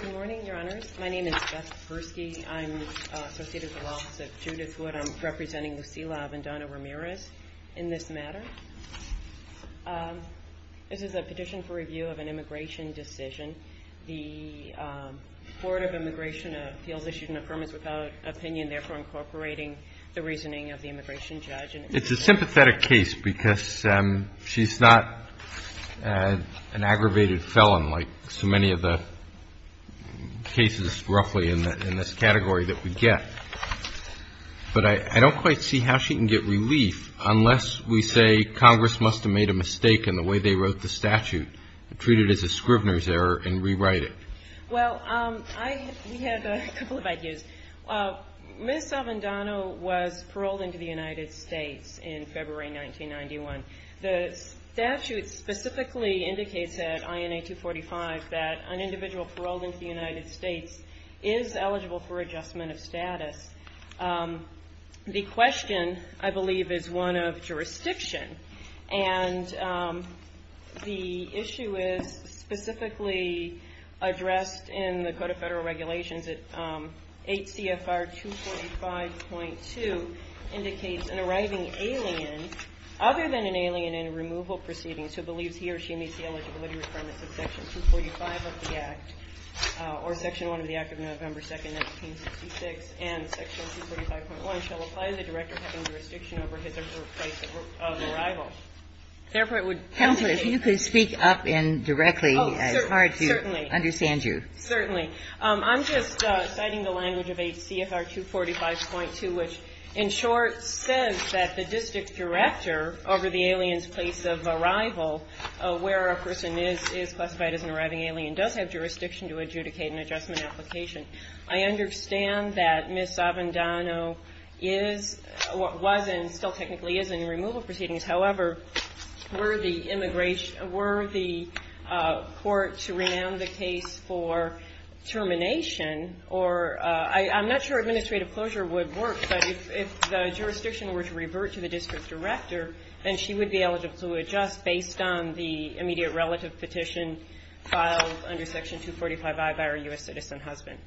Good morning, your honors. My name is Beth Persky. I'm associated with the Office of Judith Wood. I'm representing Lucila Vendano-Ramirez in this matter. This is a petition for review of an immigration decision. The Board of Immigration feels issued an affirmation without opinion, therefore incorporating the reasoning of the immigration judge. It's a sympathetic case because she's not an aggravated felon like so many of the cases roughly in this category that we get. But I don't quite see how she can get relief unless we say Congress must have made a mistake in the way they wrote the statute, treat it as a Scrivener's error, and rewrite it. Well, we had a couple of ideas. Ms. Vendano was paroled into the United States in February 1991. The statute specifically indicates at INA 245 that an individual paroled into the United States is eligible for adjustment of status. The question, I believe, is one of jurisdiction. And the issue is specifically addressed in the Code of Federal Regulations. H.C.F.R. 245.2 indicates an arriving alien, other than an alien in removal proceedings, who believes he or she meets the eligibility requirements of Section 245 of the Act or Section 1 of the Act of November 2, 1966, and Section 245.1 shall apply the director having jurisdiction over his or her place of work. If this were to be referred to Administrator Vendano and I, I would insist that the Chapter 64 article, I'm not Xing Wang, I apologize in advance to the Director of the Corporation to have jurisdiction until the anniversary of Mr. Vendano's arrival. Therefore, it would implicate – Counsel, if you could speak up and directly as hard to understand you. Certainly. Certainly. I'm just citing the language of HCFR 245.2, which in short says that the district director over the alien's place of arrival, where a person is classified as an arriving alien, does have jurisdiction to adjudicate an adjustment application. I understand that Ms. Avendano is, was and still technically is in removal proceedings. However, were the immigration, were the court to renown the case for termination or, I'm not sure administrative closure would work, but if the jurisdiction were to revert to the district director, then she would be eligible to adjust based on the immediate relative petition filed under Section 245I by her U.S. citizen husband.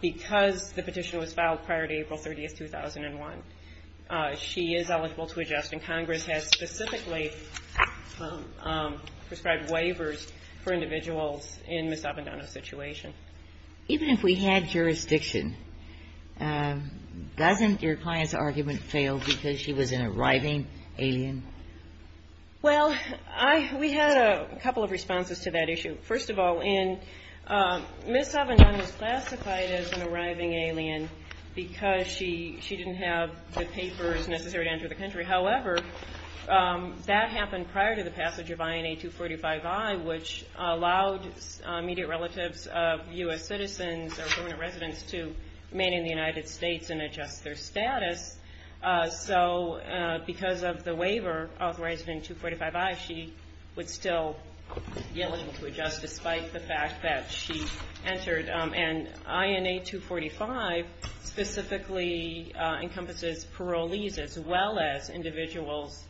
Because the petition was filed prior to April 30th, 2001, she is eligible to adjust. And Congress has specifically prescribed waivers for individuals in Ms. Avendano's situation. Even if we had jurisdiction, doesn't your client's argument fail because she was an arriving alien? Well, I, we had a couple of responses to that issue. First of all, in, Ms. Avendano is classified as an arriving alien because she, she didn't have the papers necessary to enter the country. However, that happened prior to the passage of INA 245I, which allowed immediate relatives of U.S. citizens or permanent residents to remain in the United States and adjust their status. So because of the waiver authorized in 245I, she would still be eligible to adjust despite the fact that she entered. And INA 245 specifically encompasses parolees as well as individuals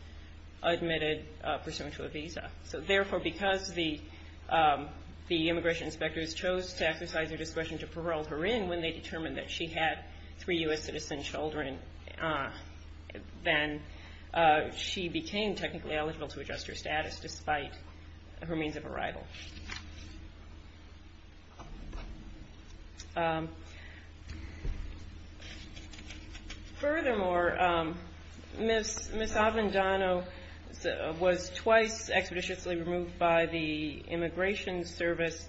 admitted pursuant to a visa. So therefore, because the, the immigration inspectors chose to exercise their discretion to parole her in when they determined that she had three U.S. citizen children, then she became technically eligible to adjust her status despite her means of arrival. Furthermore, Ms., Ms. Avendano was twice expeditiously removed by the Immigration Service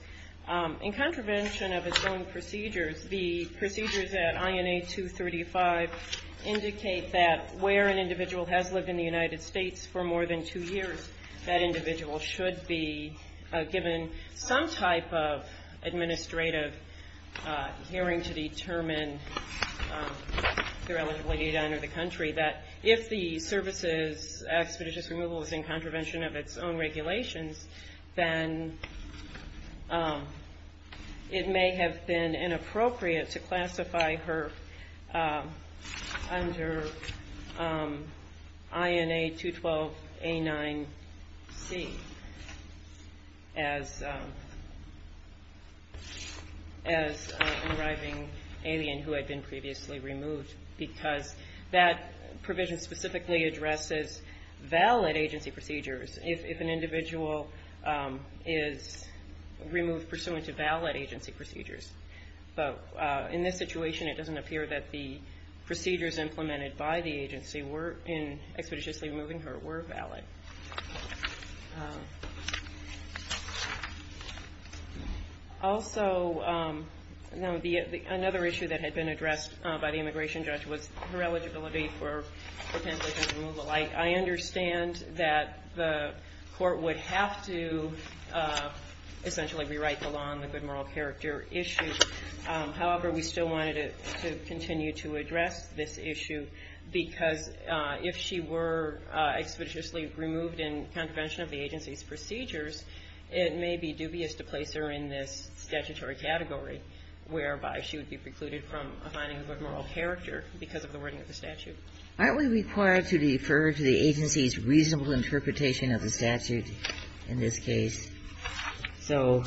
in contravention of its own procedures. The procedures at INA 235 indicate that where an individual has lived in the United States for more than two years, that individual should be given some type of administrative hearing to determine their eligibility to enter the country. That if the service's expeditious removal is in contravention of its own regulations, then it may have been inappropriate to classify her under INA 212A9C as, as an arriving alien who had been previously removed. Because that provision specifically addresses valid agency procedures if, if an individual is removed pursuant to valid agency procedures. But in this situation, it doesn't appear that the procedures implemented by the agency were, in expeditiously removing her, were valid. Also, another issue that had been addressed by the immigration judge was her eligibility for, for pension removal. I, I understand that the court would have to essentially rewrite the law on the good moral character issue. However, we still wanted to, to continue to address this issue because if she were expeditiously removed in contravention of the agency's procedures, it may be dubious to place her in this statutory category whereby she would be precluded from a finding of a good moral character because of the wording of the statute. Aren't we required to defer to the agency's reasonable interpretation of the statute in this case? So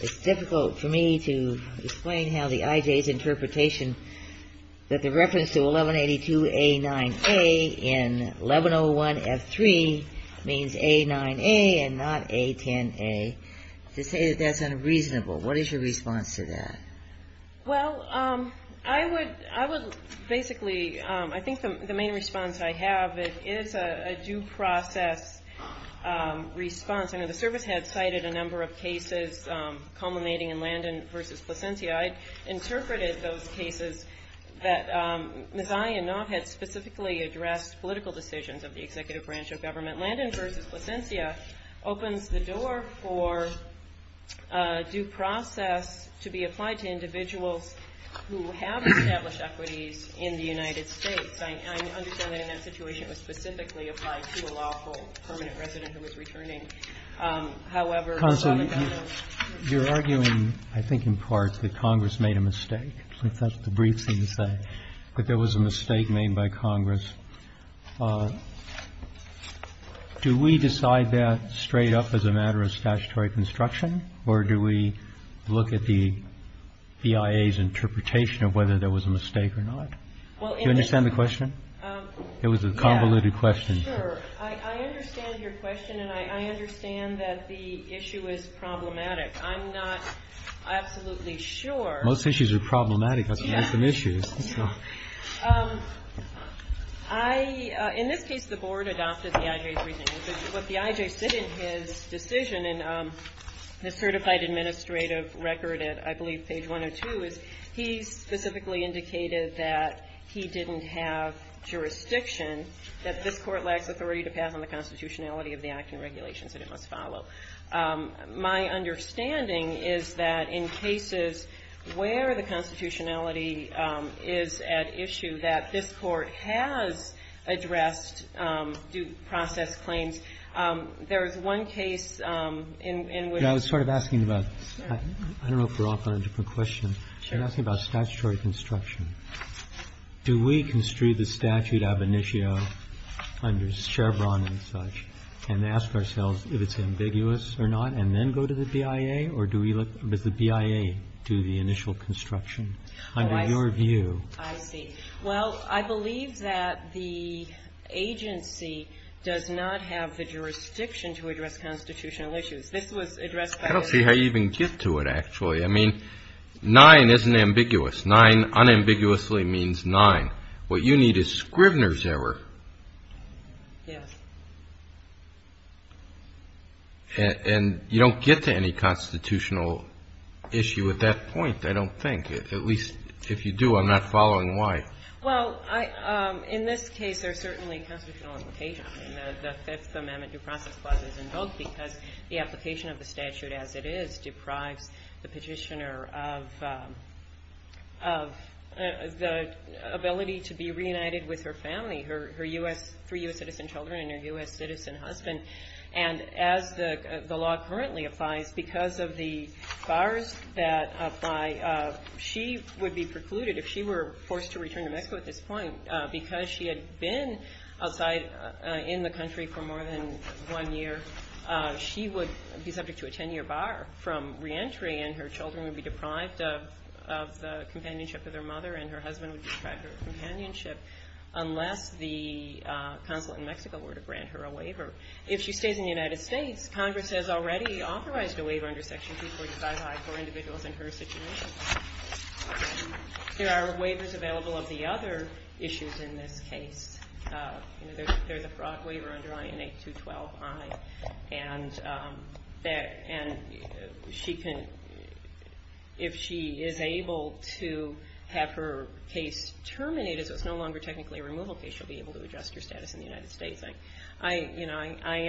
it's difficult for me to explain how the IJ's interpretation that the reference to 1182A9A in 1101F3 means A9A and not A10A, to say that that's unreasonable. What is your response to that? Well, I would, I would basically, I think the main response I have is a due process response. I know the service had cited a number of cases culminating in Landon v. Plasencia. I interpreted those cases that Ms. Ayanov had specifically addressed political decisions of the executive branch of government. Landon v. Plasencia opens the door for due process to be applied to individuals who have established equities in the United States. I understand that in that situation it was specifically applied to a lawful permanent resident who was returning. However, rather than a... Counsel, you're arguing, I think in part, that Congress made a mistake. That's the brief thing to say, that there was a mistake made by Congress. Do we decide that straight up as a matter of statutory construction, or do we look at the BIA's interpretation of whether there was a mistake or not? Well, in the... It was a convoluted question. Sure, I understand your question, and I understand that the issue is problematic. I'm not absolutely sure. Most issues are problematic. I've seen some issues. I, in this case, the board adopted the IJ's reasoning. What the IJ said in his decision, in the certified administrative record at, I believe, page 102, is he specifically indicated that he didn't have jurisdiction, that this court lacks authority to pass on the constitutionality of the act and regulations that it must follow. My understanding is that in cases where the constitutionality is at issue, that this court has addressed due process claims. There is one case in which... I don't know if we're off on a different question, but you're asking about statutory construction. Do we construe the statute ab initio under Scherbron and such, and ask ourselves if it's ambiguous or not, and then go to the BIA? Or does the BIA do the initial construction under your view? I see. Well, I believe that the agency does not have the jurisdiction to address constitutional issues. I don't see how you even get to it, actually. I mean, nine isn't ambiguous. Nine unambiguously means nine. What you need is Scrivner's error. Yes. And you don't get to any constitutional issue at that point, I don't think. At least, if you do, I'm not following why. Well, in this case, there's certainly constitutional implications. The Fifth Amendment due process clause is invoked because the application of the statute as it is deprives the petitioner of the ability to be reunited with her family, her three U.S. citizen children and her U.S. citizen husband. And as the law currently applies, because of the bars that apply, she would be precluded, if she were forced to return to Mexico at this point, because she had been outside in the country for more than one year, she would be subject to a 10-year bar from reentry and her children would be deprived of the companionship of their mother and her husband would be deprived of companionship unless the consulate in Mexico were to grant her a waiver. If she stays in the United States, Congress has already authorized a waiver under Section 245-I for individuals in her situation. There are waivers available of the other issues in this case. There's a fraud waiver under INA 212-I and if she is able to have her case terminated, so it's no longer technically a removal case, she'll be able to adjust her status in the United States. I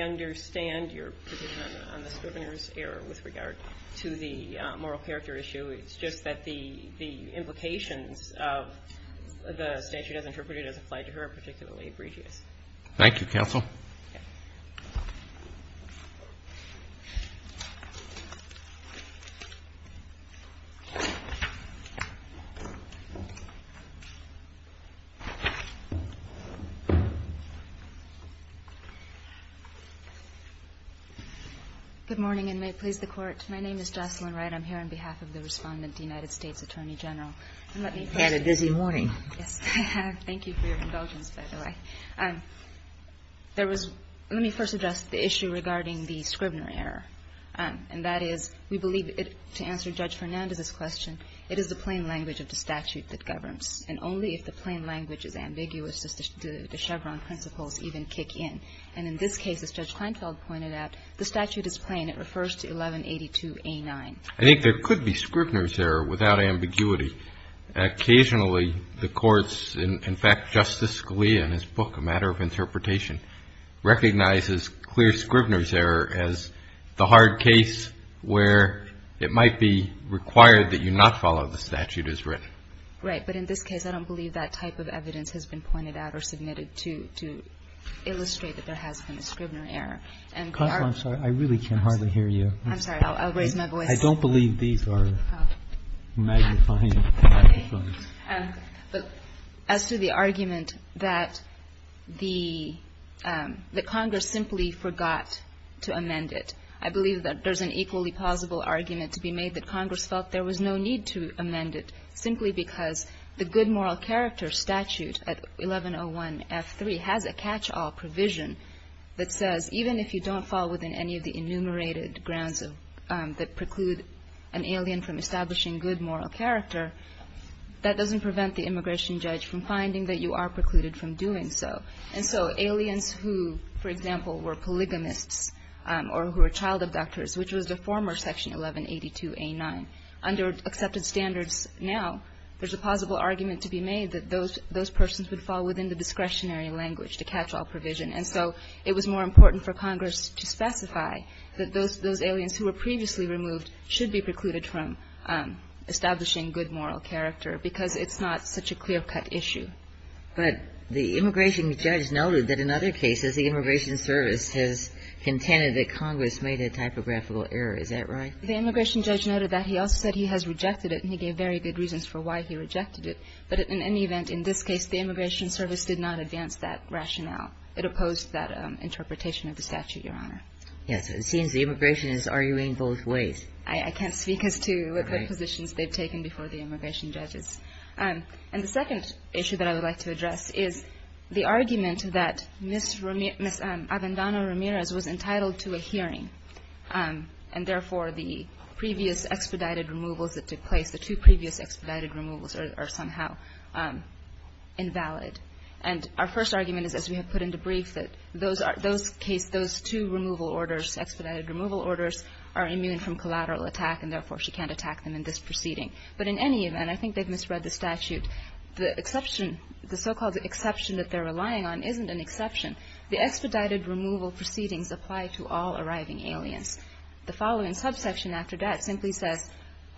understand your position on the Scrivener's error with regard to the moral character issue. It's just that the implications of the statute as interpreted as applied to her are particularly egregious. Thank you, Counsel. Good morning and may it please the Court. My name is Jocelyn Wright. I'm here on behalf of the Respondent, the United States Attorney General. You've had a busy morning. Yes, I have. Thank you for your indulgence, by the way. There was – let me first address the issue regarding the Scrivener error. And that is, we believe it – to answer Judge Fernandez's question, it is the plain language of the statute that governs. And only if the plain language is ambiguous do the Chevron principles even kick in. And in this case, as Judge Kleinfeld pointed out, the statute is plain. And it refers to 1182A9. I think there could be Scrivener's error without ambiguity. Occasionally, the courts – in fact, Justice Scalia in his book, A Matter of Interpretation, recognizes clear Scrivener's error as the hard case where it might be required that you not follow the statute as written. Right. But in this case, I don't believe that type of evidence has been pointed out or submitted to illustrate that there has been a Scrivener error. Counsel, I'm sorry. I really can hardly hear you. I'm sorry. I'll raise my voice. I don't believe these are magnifying microphones. But as to the argument that the Congress simply forgot to amend it, I believe that there's an equally plausible argument to be made that Congress felt there was no need to amend it, simply because the good moral character statute at 1101F3 has a catch-all provision that says even if you don't fall within any of the enumerated grounds that preclude an alien from establishing good moral character, that doesn't prevent the immigration judge from finding that you are precluded from doing so. And so aliens who, for example, were polygamists or who were child abductors, which was the former Section 1182A9, under accepted standards now, there's a plausible argument to be made that those persons would fall within the discretionary language to catch-all provision. And so it was more important for Congress to specify that those aliens who were previously removed should be precluded from establishing good moral character, because it's not such a clear-cut issue. But the immigration judge noted that in other cases the Immigration Service has contended that Congress made a typographical error. Is that right? The immigration judge noted that. He also said he has rejected it, and he gave very good reasons for why he rejected it. But in any event, in this case, the Immigration Service did not advance that rationale. It opposed that interpretation of the statute, Your Honor. Yes. It seems the immigration is arguing both ways. I can't speak as to what positions they've taken before the immigration judges. And the second issue that I would like to address is the argument that Ms. Avendano-Ramirez was entitled to a hearing, and therefore the previous expedited removals that took place, the two previous expedited removals, are somehow invalid. And our first argument is, as we have put in the brief, that those two removal orders, expedited removal orders, are immune from collateral attack, and therefore she can't attack them in this proceeding. But in any event, I think they've misread the statute. The so-called exception that they're relying on isn't an exception. The expedited removal proceedings apply to all arriving aliens. The following subsection after that simply says,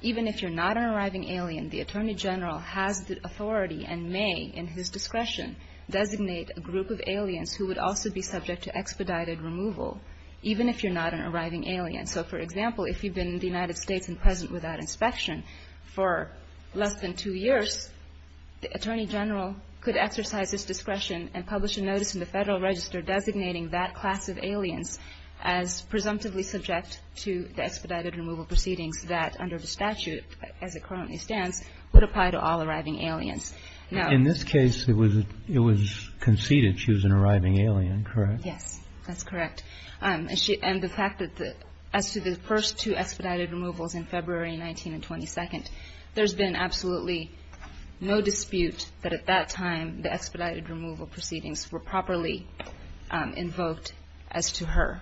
even if you're not an arriving alien, the Attorney General has the authority and may, in his discretion, designate a group of aliens who would also be subject to expedited removal, even if you're not an arriving alien. So, for example, if you've been in the United States and present without inspection for less than two years, the Attorney General could exercise his discretion and publish a notice in the Federal Register designating that class of aliens as presumptively subject to the expedited removal proceedings that, under the statute as it currently stands, would apply to all arriving aliens. Now, in this case, it was conceded she was an arriving alien, correct? Yes, that's correct. And the fact that, as to the first two expedited removals in February 19 and 22nd, there's been absolutely no dispute that at that time the expedited removal proceedings were properly invoked as to her,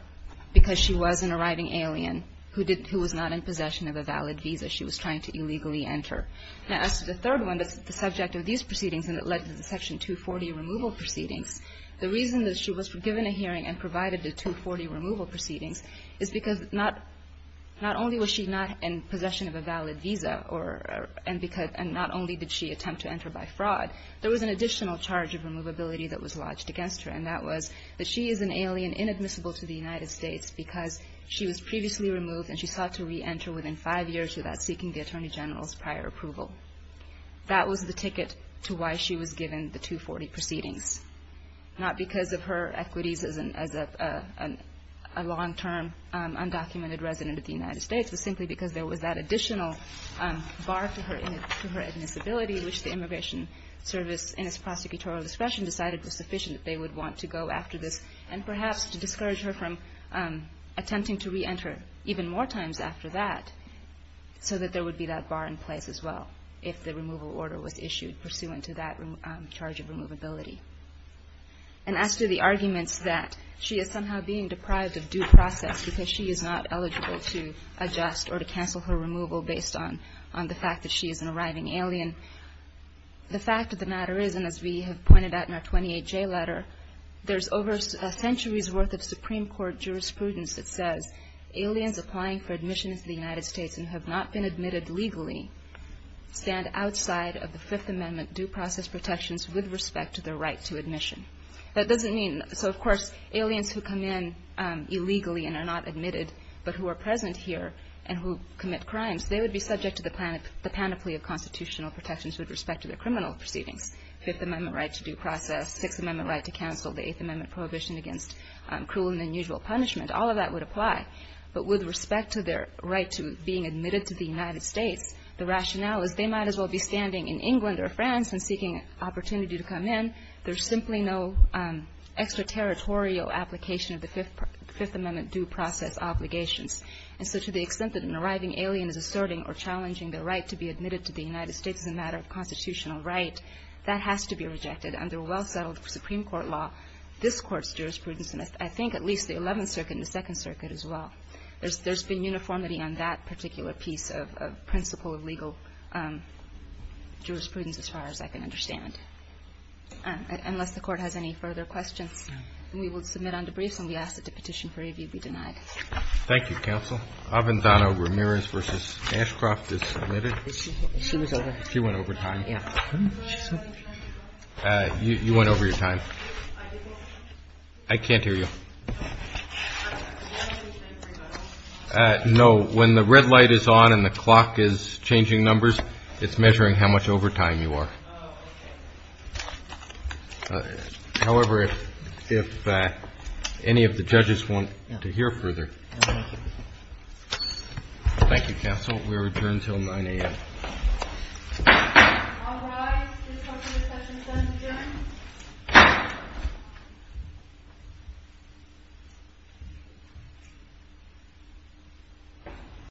because she was an arriving alien who was not in possession of a valid visa she was trying to illegally enter. Now, as to the third one, that's the subject of these proceedings and it led to the Section 240 removal proceedings, the reason that she was given a hearing and provided the 240 removal proceedings is because not only was she not in possession of a valid visa and not only did she attempt to enter by fraud, there was an additional charge of removability that was lodged against her, and that was that she is an alien inadmissible to the United States because she was previously removed and she sought to re-enter within five years without seeking the Attorney General's prior approval. That was the ticket to why she was given the 240 proceedings, not because of her equities as a long-term undocumented resident of the United States, but simply because there was that additional bar to her admissibility, which the Immigration Service, in its prosecutorial discretion, decided was sufficient that they would want to go after this and perhaps to discourage her from attempting to re-enter even more times after that so that there would be that bar in place as well if the removal order was issued pursuant to that charge of removability. And as to the arguments that she is somehow being deprived of due process because she is not eligible to adjust or to cancel her removal based on the fact that she is an arriving alien, the fact of the matter is, and as we have pointed out in our 28J letter, there is over a century's worth of Supreme Court jurisprudence that says aliens applying for admission into the United States and have not been admitted legally stand outside of the Fifth Amendment due process protections with respect to their right to admission. That doesn't mean, so of course, aliens who come in illegally and are not admitted but who are present here and who commit crimes, they would be subject to the panoply of constitutional protections with respect to their criminal proceedings. Fifth Amendment right to due process, Sixth Amendment right to cancel, the Eighth Amendment prohibition against cruel and unusual punishment, all of that would apply. But with respect to their right to being admitted to the United States, the rationale is they might as well be standing in England or France and seeking an opportunity to come in. There is simply no extraterritorial application of the Fifth Amendment due process obligations. And so to the extent that an arriving alien is asserting or challenging their right to be admitted to the United States as a matter of constitutional right, that has to be rejected under well-settled Supreme Court law, this Court's jurisprudence and I think at least the Eleventh Circuit and the Second Circuit as well. There's been uniformity on that particular piece of principle of legal jurisprudence as far as I can understand. Unless the Court has any further questions, we will submit on debrief and we ask that the petition for review be denied. Thank you, counsel. Avanzano-Ramirez v. Ashcroft is submitted. She was over? She went overtime. Yeah. You went overtime. I can't hear you. No. When the red light is on and the clock is changing numbers, it's measuring how much overtime you are. However, if any of the judges want to hear further. Thank you, counsel. We return until 9 a.m. Thank you, guys. This concludes session 7. Adjourned.